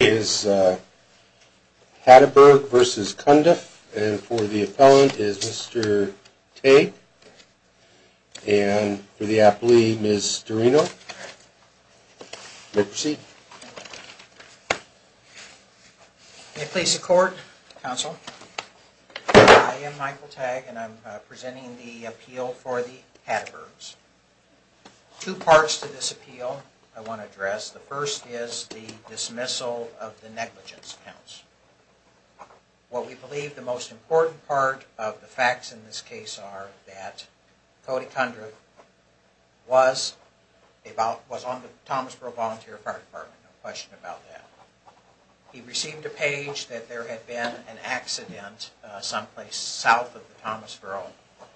is Hatteberg v. Cundiff, and for the appellant is Mr. Tagg, and for the appellee, Ms. Dorino. You may proceed. May it please the Court, Counsel, I am Michael Tagg, and I'm presenting the appeal for the Hattebergs. Two parts to this appeal I want to address. The first is the dismissal of the negligence counts. What we believe the most important part of the facts in this case are that Cody Cundiff was on the Thomasboro Volunteer Fire Department, no question about that. He received a page that there had been an accident someplace south of the Thomasboro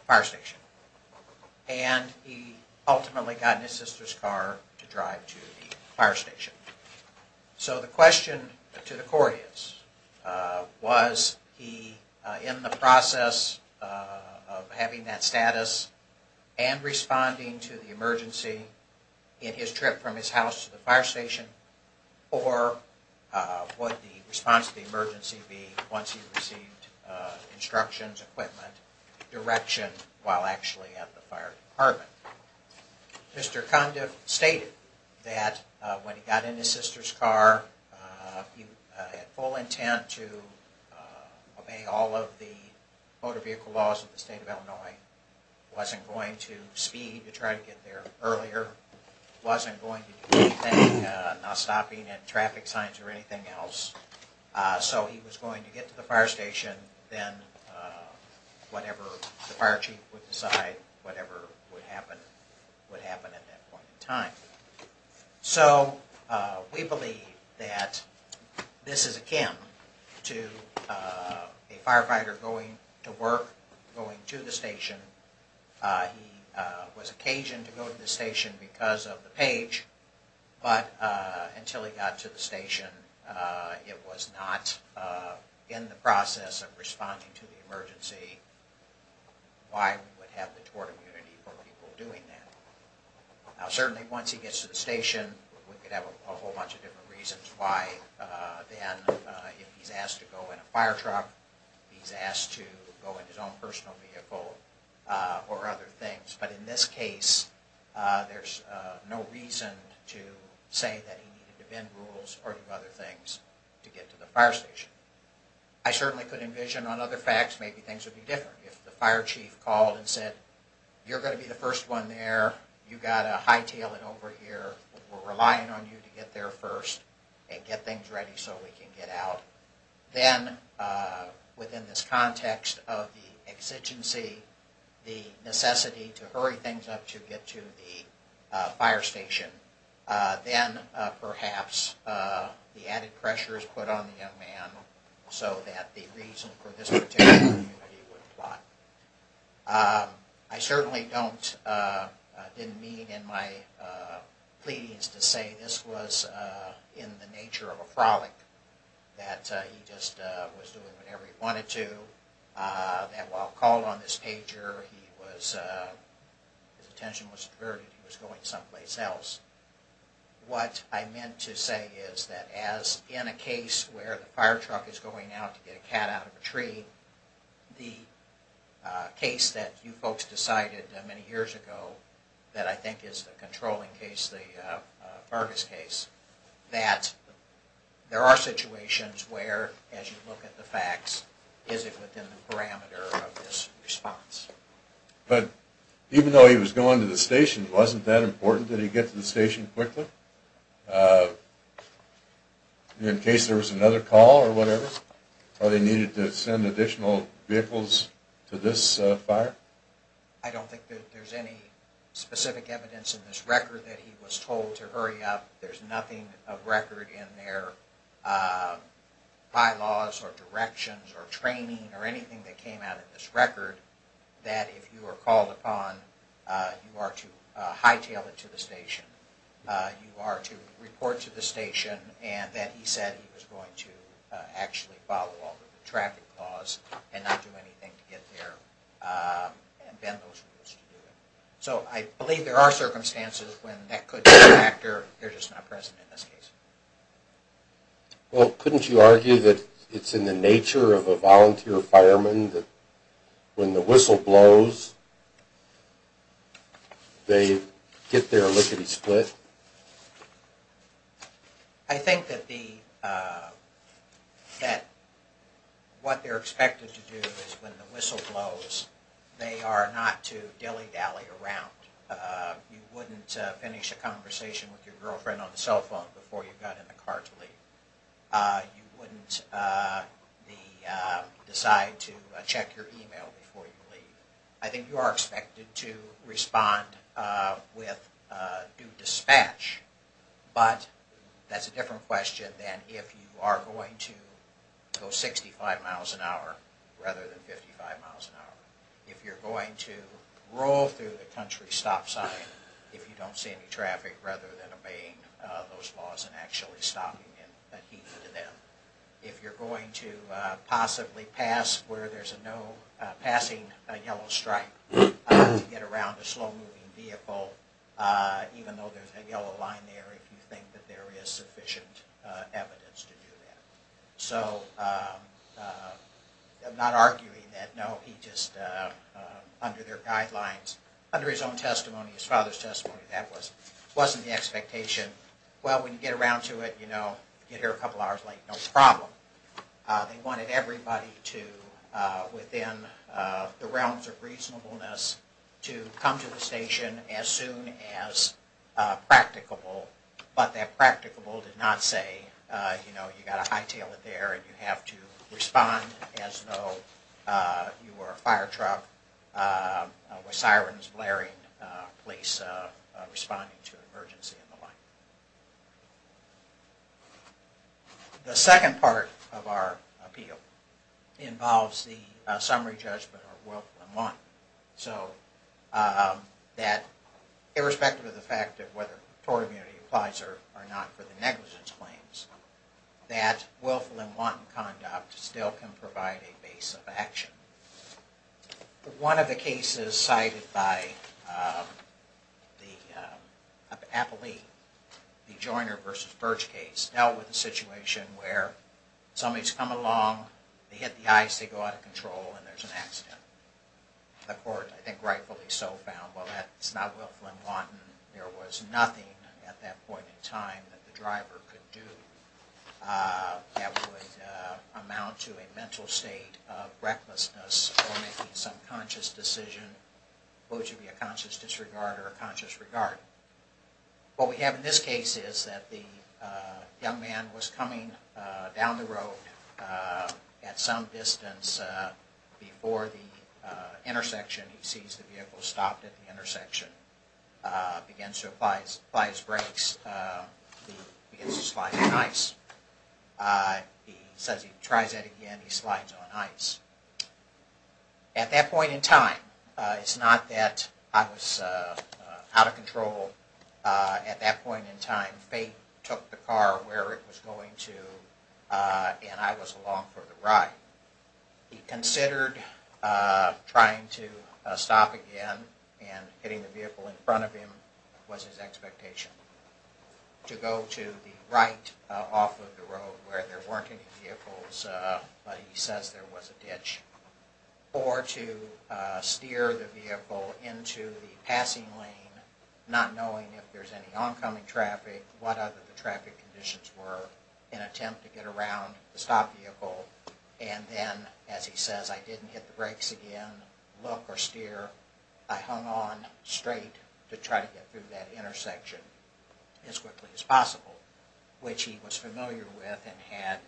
Fire Station, and he ultimately got in his sister's car to drive to the fire station. So the question to the Court is, was he in the process of having that status and responding to the emergency in his trip from his house to the fire station, or would the response to the emergency be once he received instructions, equipment, direction while actually at the fire department? Mr. Cundiff stated that when he got in his sister's car, he had full intent to obey all of the motor vehicle laws of the state of Illinois, wasn't going to speed to try to get there earlier, wasn't going to do anything, not stopping at traffic signs or anything else. So he was going to get to the fire station, then whatever the fire chief would decide, whatever would happen, would happen at that point in time. So we believe that this is akin to a firefighter going to work, going to the station. He was occasioned to go to the station because of the page, but until he got to the station, it was not in the process of responding to the emergency. Why would we have the tort immunity for people doing that? Now certainly once he gets to the station, we could have a whole bunch of different reasons why then, if he's asked to go in a fire truck, if he's asked to go in his own personal vehicle or other things. But in this case, there's no reason to say that he needed to bend rules or do other things to get to the fire station. I certainly could envision on other facts, maybe things would be different. If the fire chief called and said, you're going to be the first one there, you've got to hightail it over here, we're relying on you to get there first and get things ready so we can get out. Then within this context of the exigency, the necessity to hurry things up to get to the fire station, then perhaps the added pressure is put on the young man so that the reason for this particular immunity would apply. I certainly don't, didn't mean in my pleadings to say this was in the nature of a frolic, that he just was doing whatever he wanted to, that while called on this pager, his attention was diverted, he was going someplace else. What I meant to say is that as in a case where the fire truck is going out to get a cat out of a tree, the case that you folks decided many years ago, that I think is the controlling case, the Vargas case, that there are situations where as you look at the facts, is it within the parameter of this response. But even though he was going to the station, wasn't that important that he get to the station quickly? In case there was another call or whatever, or they needed to send additional vehicles to this fire? I don't think that there's any specific evidence in this record that he was told to hurry up. There's nothing of record in their bylaws or directions or training or anything that came out of this record that if you are called upon, you are to hightail it to the station, you are to report to the station and that he said he was going to actually follow all the traffic laws and not do anything to get there and bend those rules to do it. So I believe there are circumstances when that could be a factor, they're just not present in this case. Well, couldn't you argue that it's in the nature of a volunteer fireman that when the whistle blows, they get their lickety split? I think that what they're expected to do is when the whistle blows, they are not to dilly dally around. You wouldn't finish a conversation with your girlfriend on the cell phone before you got in the car to leave. You wouldn't decide to check your email before you leave. I think you are expected to respond with due dispatch, but that's a different question than if you are going to go 65 miles an hour rather than 55 miles an hour. If you're going to roll through the country stop sign if you don't see any traffic rather than obeying those laws and actually stopping and heeding to them. If you're going to possibly pass where there's a no passing yellow stripe to get around a slow moving vehicle even though there's a yellow line there if you think that there is sufficient evidence to do that. So I'm not arguing that, no, he just under their guidelines, under his own testimony, his father's testimony, that wasn't the expectation. Well, when you get around to it, you know, you get here a couple hours late, no problem. They wanted everybody to, within the realms of reasonableness, to come to the station as soon as practicable. But that practicable did not say, you know, you've got to hightail it there and you have to respond as though you were a firetruck with sirens blaring, police responding to an emergency and the like. The second part of our appeal involves the summary judgment of willful and wanton. So that irrespective of the fact that whether tort immunity applies or not for the negligence claims, that willful and wanton conduct still can provide a base of action. One of the cases cited by the appellee, the Joyner v. Birch case, dealt with a situation where somebody's come along, they hit the ice, they go out of control and there's an accident. The court, I think rightfully so, found, well, that's not willful and wanton, there was nothing at that point in time that the driver could do that would amount to a mental state of recklessness or making some conscious decision, both should be a conscious disregard or a conscious regard. What we have in this case is that the young man was coming down the road at some distance before the intersection. He sees the vehicle stopped at the intersection, begins to apply his brakes, begins to slide on ice. He says he tries it again, he slides on ice. At that point in time, it's not that I was out of control, at that point in time fate took the car where it was going to and I was along for the ride. He considered trying to stop again and hitting the vehicle in front of him was his expectation. To go to the right off of the road where there weren't any vehicles but he says there was a ditch. Or to steer the vehicle into the passing lane, not knowing if there's any oncoming traffic, what other traffic conditions were, an attempt to get around the stopped vehicle and then, as he says, I didn't hit the brakes again, look or steer, I hung on straight to try to get through that intersection as quickly as possible, which he was familiar with and had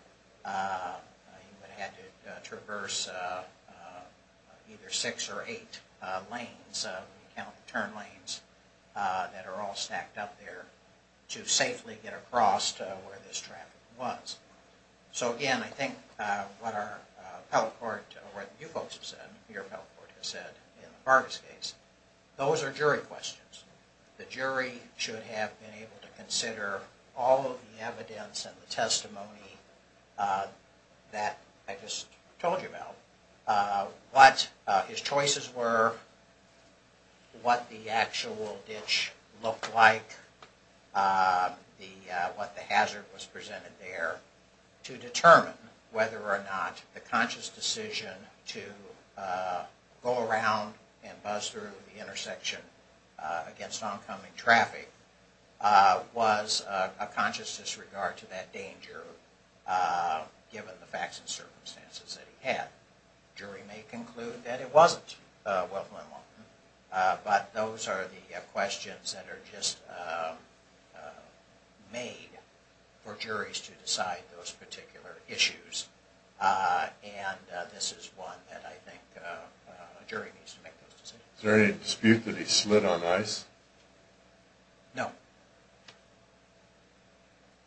to traverse either six or eight lanes, turn lanes, that are all stacked up there to safely get across to where this traffic was. So again, I think what our appellate court, or what you folks have said, your appellate court has said in Barb's case, those are jury questions. The jury should have been able to consider all of the evidence and the testimony that I just told you about, what his choices were, what the actual ditch looked like, what the hazard was presented there to determine whether or not the conscious decision to go around and buzz through the intersection against oncoming traffic was a conscious disregard to that danger given the facts and circumstances that he had. The jury may conclude that it wasn't, but those are the questions that are just made for juries to decide those particular issues and this is one that I think a jury needs to make those decisions. Is there any dispute that he slid on ice? No.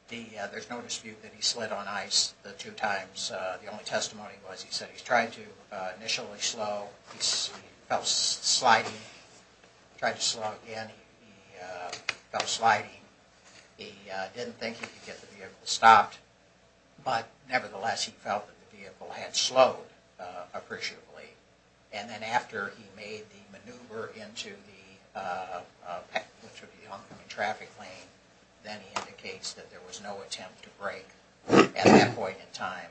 There's no dispute that he slid on ice. The two times, the only testimony was he said he tried to initially slow, he felt sliding, tried to slow again, he felt sliding, he didn't think he could get the vehicle stopped, but nevertheless he felt that the vehicle had slowed appreciably and then after he made the maneuver into the oncoming traffic lane, then he indicates that there was no attempt to brake at that point in time.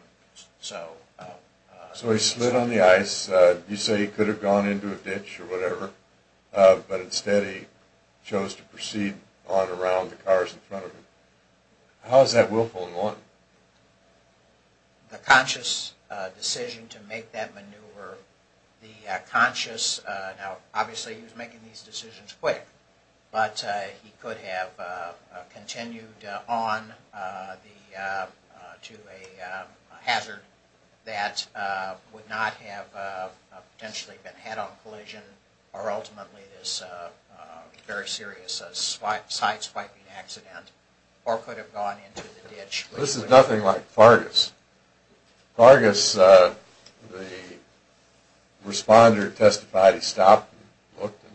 So he slid on the ice, you say he could have gone into a ditch or whatever, but instead he chose to proceed on around the cars in front of him. How is that willful in one? The conscious decision to make that maneuver, the conscious, now obviously he was making these decisions quick, but he could have continued on to a hazard that would not have potentially been head-on collision or ultimately this very serious side swiping accident or could have gone into the ditch. This is nothing like Fargus. Fargus, the responder testified he stopped and looked and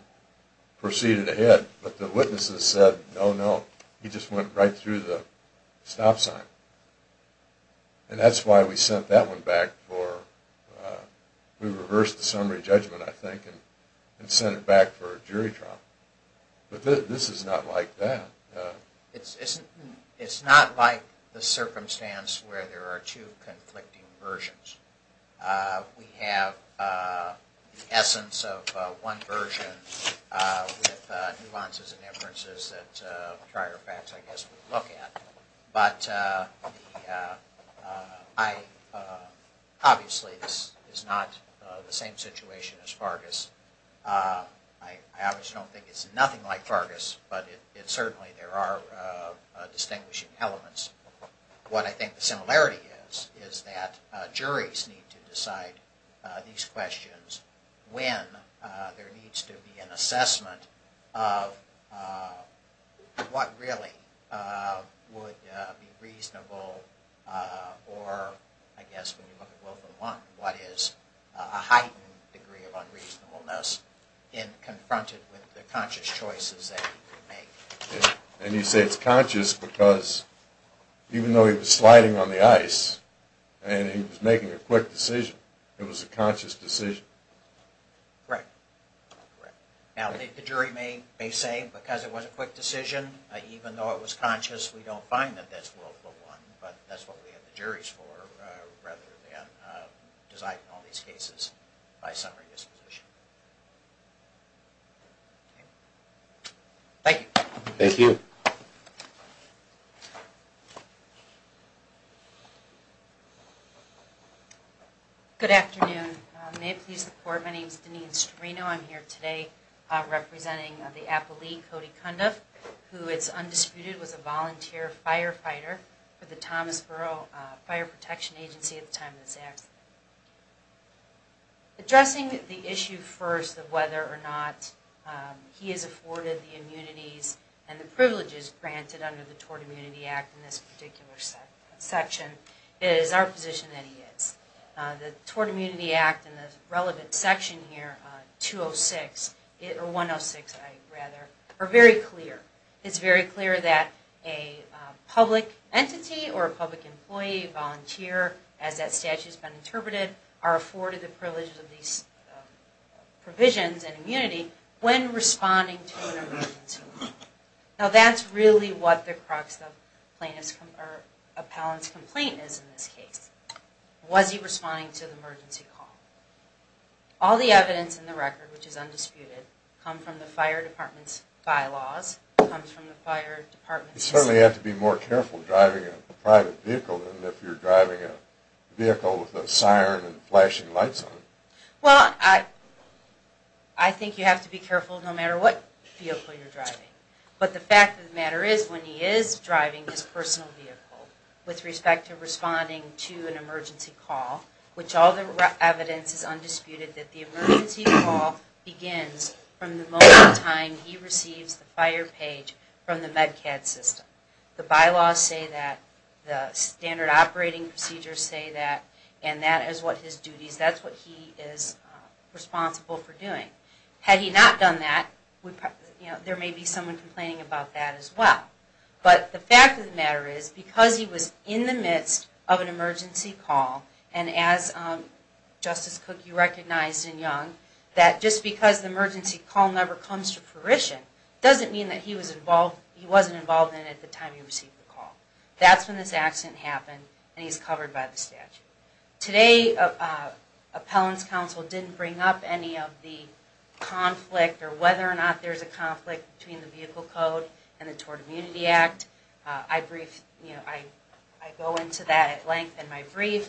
proceeded ahead, but the witnesses said no, no, he just went right through the stop sign. And that's why we sent that one back for, we reversed the summary judgment I think and sent it back for a jury trial. But this is not like that. It's not like the circumstance where there are two conflicting versions. We have the essence of one version with nuances and inferences that prior facts I guess would look at. But, obviously this is not the same situation as Fargus. I obviously don't think it's nothing like Fargus, but certainly there are distinguishing elements. What I think the similarity is is that juries need to decide these questions when there needs to be an assessment of what really would be reasonable or I guess when you look at Wilf and Monk what is a heightened degree of unreasonableness in confronted with the conscious choices that he could make. And you say it's conscious because even though he was sliding on the ice and he was making a quick decision, it was a conscious decision. Right. Now the jury may say because it was a quick decision even though it was conscious we don't find that it's a willful one but that's what we have the juries for rather than deciding all these cases by summary disposition. Thank you. Thank you. Good afternoon. May it please the Court. My name is Deneen Strino. I'm here today representing the appellee Cody Cundiff who is undisputed was a volunteer firefighter for the Thomas Borough Fire Protection Agency at the time of this accident. Addressing the issue first of whether or not he is afforded the immunities and the privileges granted under the Tort Immunity Act in this particular section is our position that he is. The Tort Immunity Act and the relevant section here 106 are very clear. It's very clear that a public entity or a public employee, volunteer as that statute has been interpreted are afforded the privileges of these provisions and immunity when responding to an emergency call. Now that's really what the crux of Appellant's complaint is in this case. Was he responding to the emergency call? All the evidence in the record which is undisputed come from the fire department's bylaws You certainly have to be more careful driving a private vehicle than if you're driving a vehicle with a siren and flashing lights on it. Well, I think you have to be careful no matter what vehicle you're driving. But the fact of the matter is when he is driving his personal vehicle with respect to responding to an emergency call, which all the evidence is undisputed that the emergency call begins from the moment in time he receives the fire page from the MEDCAD system. The bylaws say that, the standard operating procedures say that and that is what his duties, that's what he is responsible for doing. Had he not done that, there may be someone complaining about that as well. But the fact of the matter is because he was in the midst of an emergency call and as Justice Cook you recognized in Young that just because the emergency call never comes to fruition doesn't mean that he wasn't involved in it at the time he received the call. That's when this accident happened and he's covered by the statute. Today, Appellant's Counsel didn't bring up any of the conflict or whether or not there's a conflict between the vehicle code and the Tort Immunity Act. I go into that at length in my brief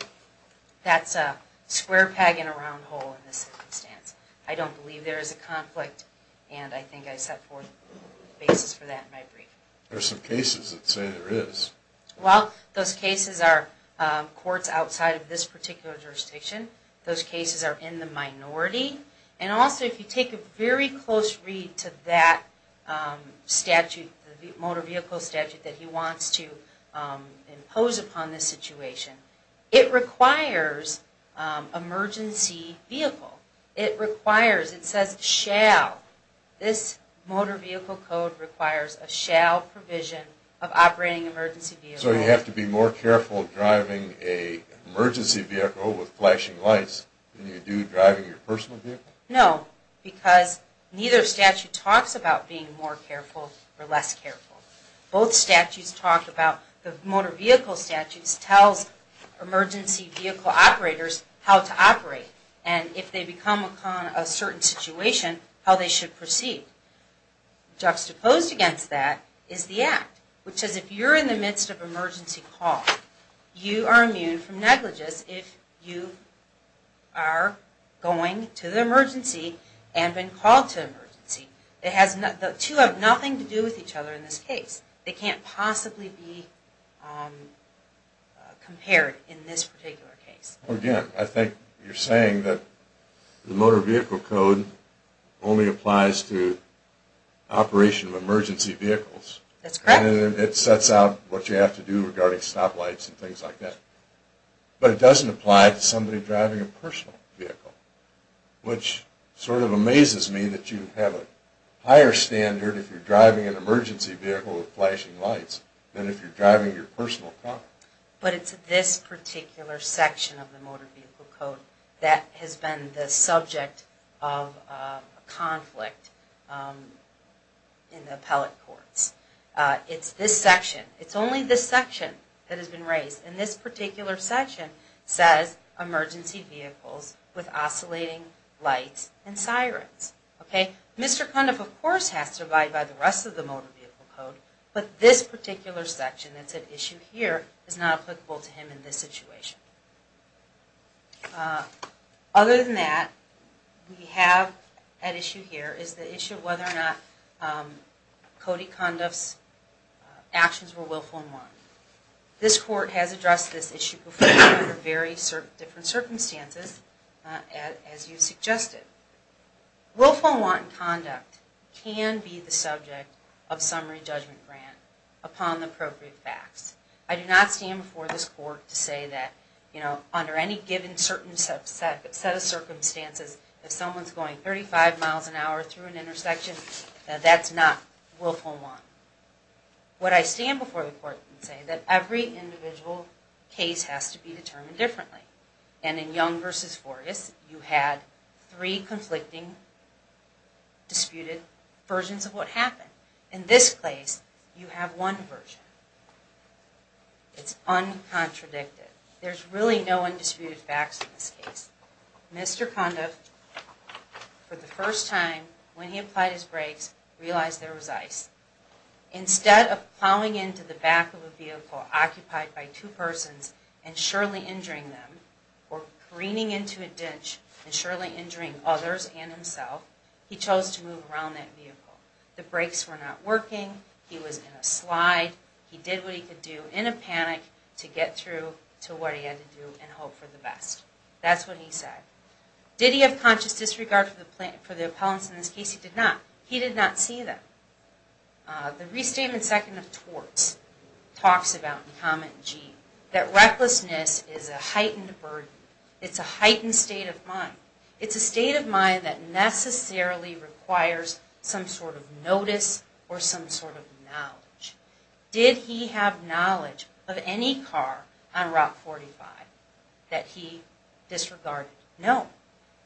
that's a square peg in a round hole in this circumstance. I don't believe there is a conflict and I think I set forth the basis for that in my brief. There are some cases that say there is. Well, those cases are courts outside of this particular jurisdiction. Those cases are in the minority and also if you take a very close read to that statute the motor vehicle statute that he wants to impose upon this situation. It requires an emergency vehicle. It requires, it says shall. This motor vehicle code requires a shall provision of operating an emergency vehicle. So you have to be more careful driving an emergency vehicle with flashing lights than you do driving your personal vehicle? No, because neither statute talks about being more careful or less careful. Both statutes talk about the motor vehicle statutes tells emergency vehicle operators how to operate and if they become a certain situation how they should proceed. Juxtaposed against that is the act, which is if you're in the midst of an emergency call you are immune from negligence if you are going to the emergency and been called to the emergency. The two have nothing to do with each other in this case. They can't possibly be compared in this particular case. Again, I think you're saying that the motor vehicle code only applies to operation of emergency vehicles. That's correct. And it sets out what you have to do regarding stoplights and things like that. But it doesn't apply to somebody driving a personal vehicle. Which sort of amazes me that you have a higher standard if you're driving an emergency vehicle with flashing lights than if you're driving your personal car. But it's this particular section of the motor vehicle code that has been the subject of a conflict in the appellate courts. It's this section. It's only this section that has been raised. And this particular section says emergency vehicles with oscillating lights and sirens. Mr. Conduff of course has to abide by the rest of the motor vehicle code, but this particular section that's at issue here is not applicable to him in this situation. Other than that we have at issue here is the issue of whether or not Cody Conduff's actions were willful and wrong. This court has addressed this issue before under very different circumstances as you suggested. Willful and wrong conduct can be the subject of summary judgment grant upon the appropriate facts. I do not stand before this court to say that under any given set of circumstances if someone's going 35 miles an hour through an intersection, that's not willful and wrong. What I stand before the court can say is that every individual case has to be determined differently. And in Young v. Forges you had three conflicting, disputed versions of what happened. In this case, you have one version. It's uncontradicted. There's really no undisputed facts in this case. Mr. Conduff, for the first time when he applied his brakes, realized there was ice. Instead of plowing into the back of a vehicle occupied by two persons and surely injuring them or careening into a ditch and surely injuring others and himself he chose to move around that vehicle. The brakes were not working. He was in a slide. He did what he could do in a panic to get through to what he had to do and hope for the best. That's what he said. Did he have conscious disregard for the appellants? In this case, he did not. He did not see them. The restatement second of torts talks about that recklessness is a heightened burden. It's a heightened state of mind. It's a state of mind that necessarily requires some sort of notice or some sort of knowledge. Did he have knowledge of any car on Route 45 that he disregarded? No.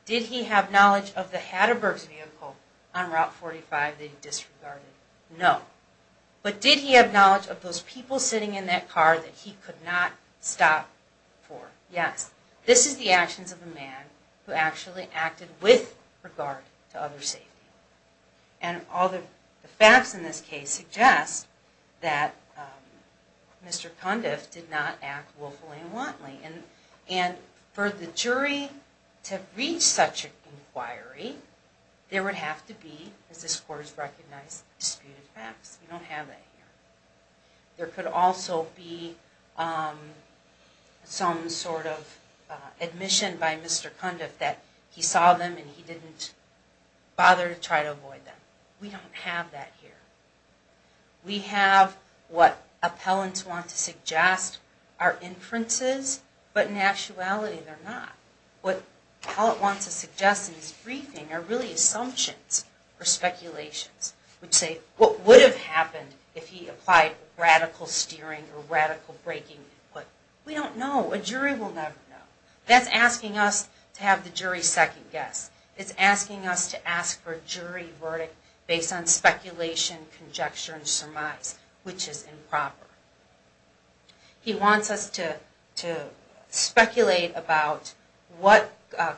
Did he have knowledge of the Hatterbergs vehicle on Route 45 that he disregarded? No. But did he have knowledge of those people sitting in that car that he could not stop for? Yes. This is the actions of a man who actually acted with regard to other safety. And all the facts in this case suggest that Mr. Cundiff did not act willfully and wantly. And for the jury to reach such an inquiry there would have to be, as this Court has recognized, disputed facts. We don't have that here. There could also be some sort of admission by Mr. Cundiff that he saw them and he didn't bother to try to avoid them. We don't have that here. We have what appellants want to suggest are inferences, but in actuality they're not. What appellants want to suggest in this briefing are really assumptions or speculations. Which say, what would have happened if he applied radical steering or radical braking? We don't know. A jury will never know. That's asking us to have the jury second guess. It's asking us to ask for a jury verdict based on speculation, conjecture, and surmise. Which is improper. He wants us to speculate about what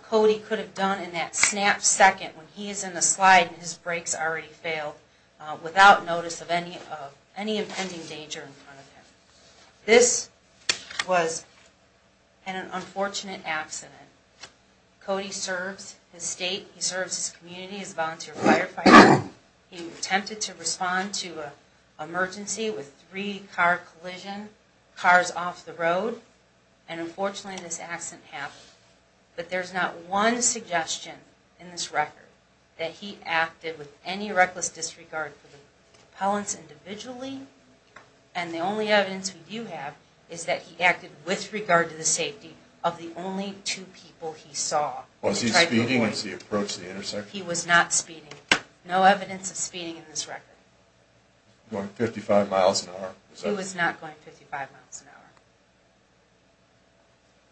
Cody could have done in that snap second when he is in the slide and his brakes already failed without notice of any impending danger in front of him. This was an unfortunate accident. Cody serves his state. He serves his community as a volunteer firefighter. He attempted to respond to an emergency with three car collisions, cars off the road. And unfortunately this accident happened. But there's not one suggestion in this record that he acted with any reckless disregard for the appellants individually. And the only evidence we do have is that he acted with regard to the safety of the only two people he saw. Was he speeding as he approached the intersection? He was not speeding. No evidence of speeding in this record. Going 55 miles an hour? He was not going 55 miles an hour.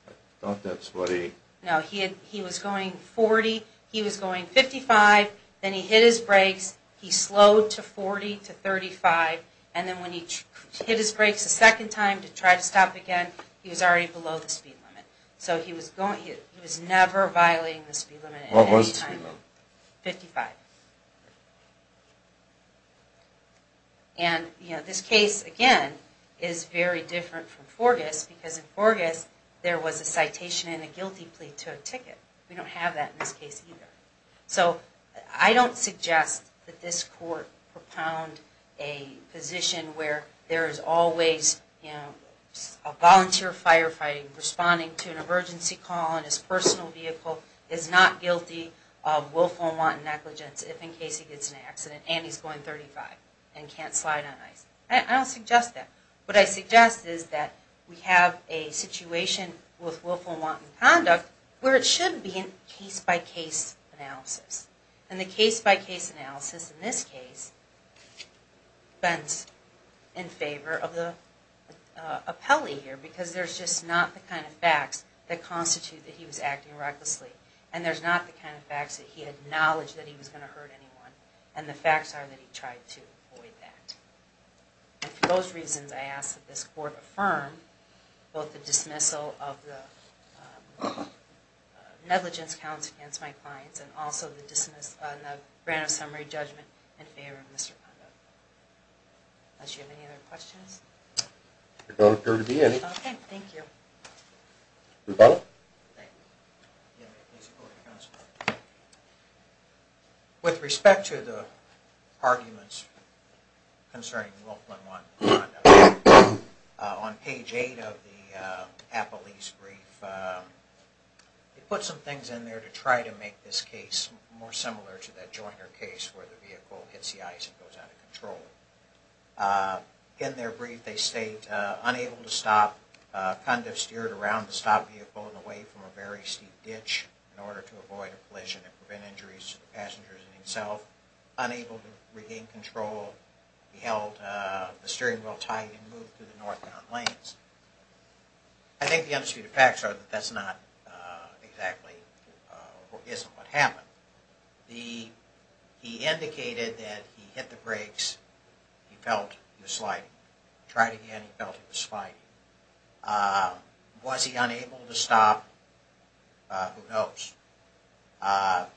I thought that's what he... No, he was going 40, he was going 55, then he hit his brakes, he slowed to 40 to 35, and then when he hit his brakes a second time to try to stop again, he was already below the speed limit. So he was never violating the speed limit at any time. What was the speed limit? 55. And this case, again, is very different from Forgis because in Forgis there was a citation and a guilty plea to a ticket. We don't have that in this case either. So I don't suggest that this court propound a position where there is always a volunteer firefighter responding to an emergency call and his personal vehicle is not guilty of willful and wanton negligence if and case he gets in an accident and he's going 35 and can't slide on ice. I don't suggest that. What I suggest is that we have a situation with willful and wanton conduct where it should be a case-by-case analysis. And the case-by-case analysis in this case bends in favor of the appellee here because there's just not the kind of facts that constitute that he was acting recklessly and there's not the kind of facts that he had knowledge that he was going to hurt anyone and the facts are that he tried to avoid that. And for those reasons I ask that this court affirm both the dismissal of the negligence counts against my clients and also the grant of summary judgment in favor of Mr. Pando. Unless you have any other questions? There don't appear to be any. Okay, thank you. With respect to the arguments concerning willful and wanton conduct on page 8 of the appellee's brief they put some things in there to try to make this case more similar to that Joyner case where the vehicle hits the ice and goes out of control. In their brief they state, unable to stop conduct steered around the stop vehicle and away from a very steep ditch in order to avoid a collision and prevent injuries to the passengers and himself. Unable to regain control he held the steering wheel tight and moved through the northbound lanes. I think the undisputed facts are that that's not exactly or isn't what happened. He indicated that he hit the brakes he felt he was sliding tried again he felt he was sliding was he unable to stop who knows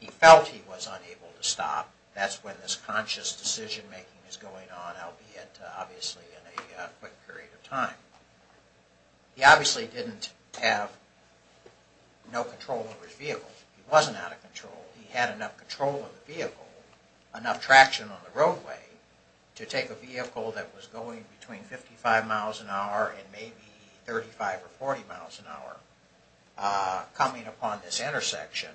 he felt he was unable to stop that's when this conscious decision making is going on albeit obviously in a quick period of time. He obviously didn't have no control over his vehicle. He wasn't out of control. He had enough control of the vehicle enough traction on the roadway to take a vehicle that was going between 55 miles an hour and maybe 35 or 40 miles an hour coming upon this intersection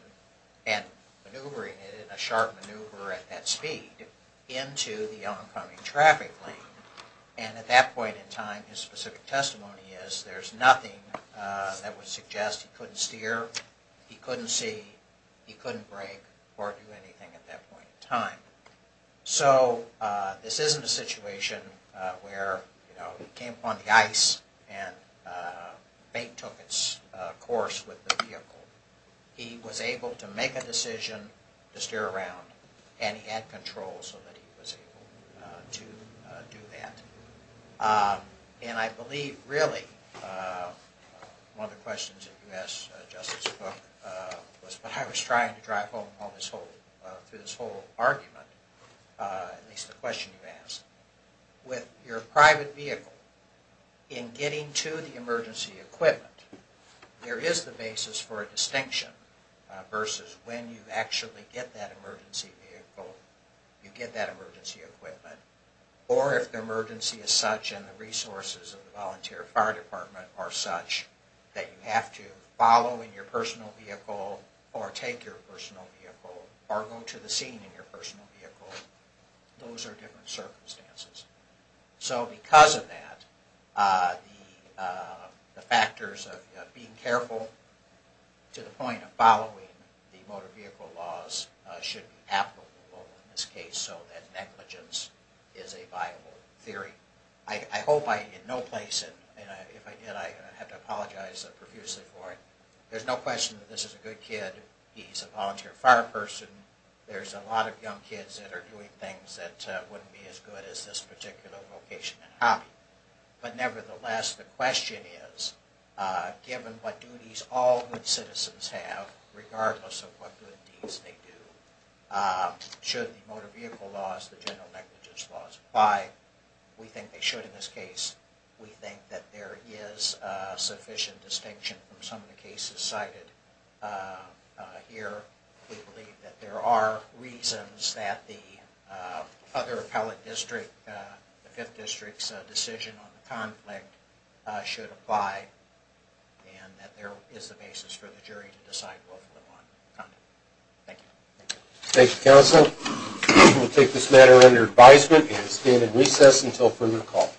and maneuvering it in a sharp maneuver at that speed into the oncoming traffic lane and at that point in time his specific testimony is there's nothing that would suggest he couldn't steer, he couldn't see he couldn't brake or do anything at that point in time. So this isn't a situation where he came upon the ice and bait took its course with the vehicle. He was able to make a decision to steer around and he had control so that he was able to do that. And I believe really one of the questions that you asked Justice Cook was what I was trying to drive home through this whole argument at least the question you asked with your private vehicle in getting to the emergency equipment there is the basis for a distinction versus when you actually get that emergency vehicle you get that emergency equipment or if the emergency is such and the resources of the volunteer fire department are such that you have to follow in your personal vehicle or take your personal vehicle or go to the scene in your personal vehicle those are different circumstances. So because of that the factors of being careful to the point of following the motor vehicle laws should be applicable in this case so that negligence is a viable theory. I hope I in no place and if I did I have to apologize profusely for it there's no question that this is a good kid he's a volunteer fire person there's a lot of young kids that are doing things that wouldn't be as good as this particular vocation and hobby but nevertheless the question is given what duties all good citizens have regardless of what good deeds they do should the motor vehicle laws the general negligence laws apply we think they should in this case we think that there is sufficient distinction from some of the cases cited here we believe that there are reasons that the other appellate district the 5th district's decision on the conflict should apply and that there is a basis for the jury to decide Thank you Thank you counsel we will take this matter under advisement and stand in recess until further call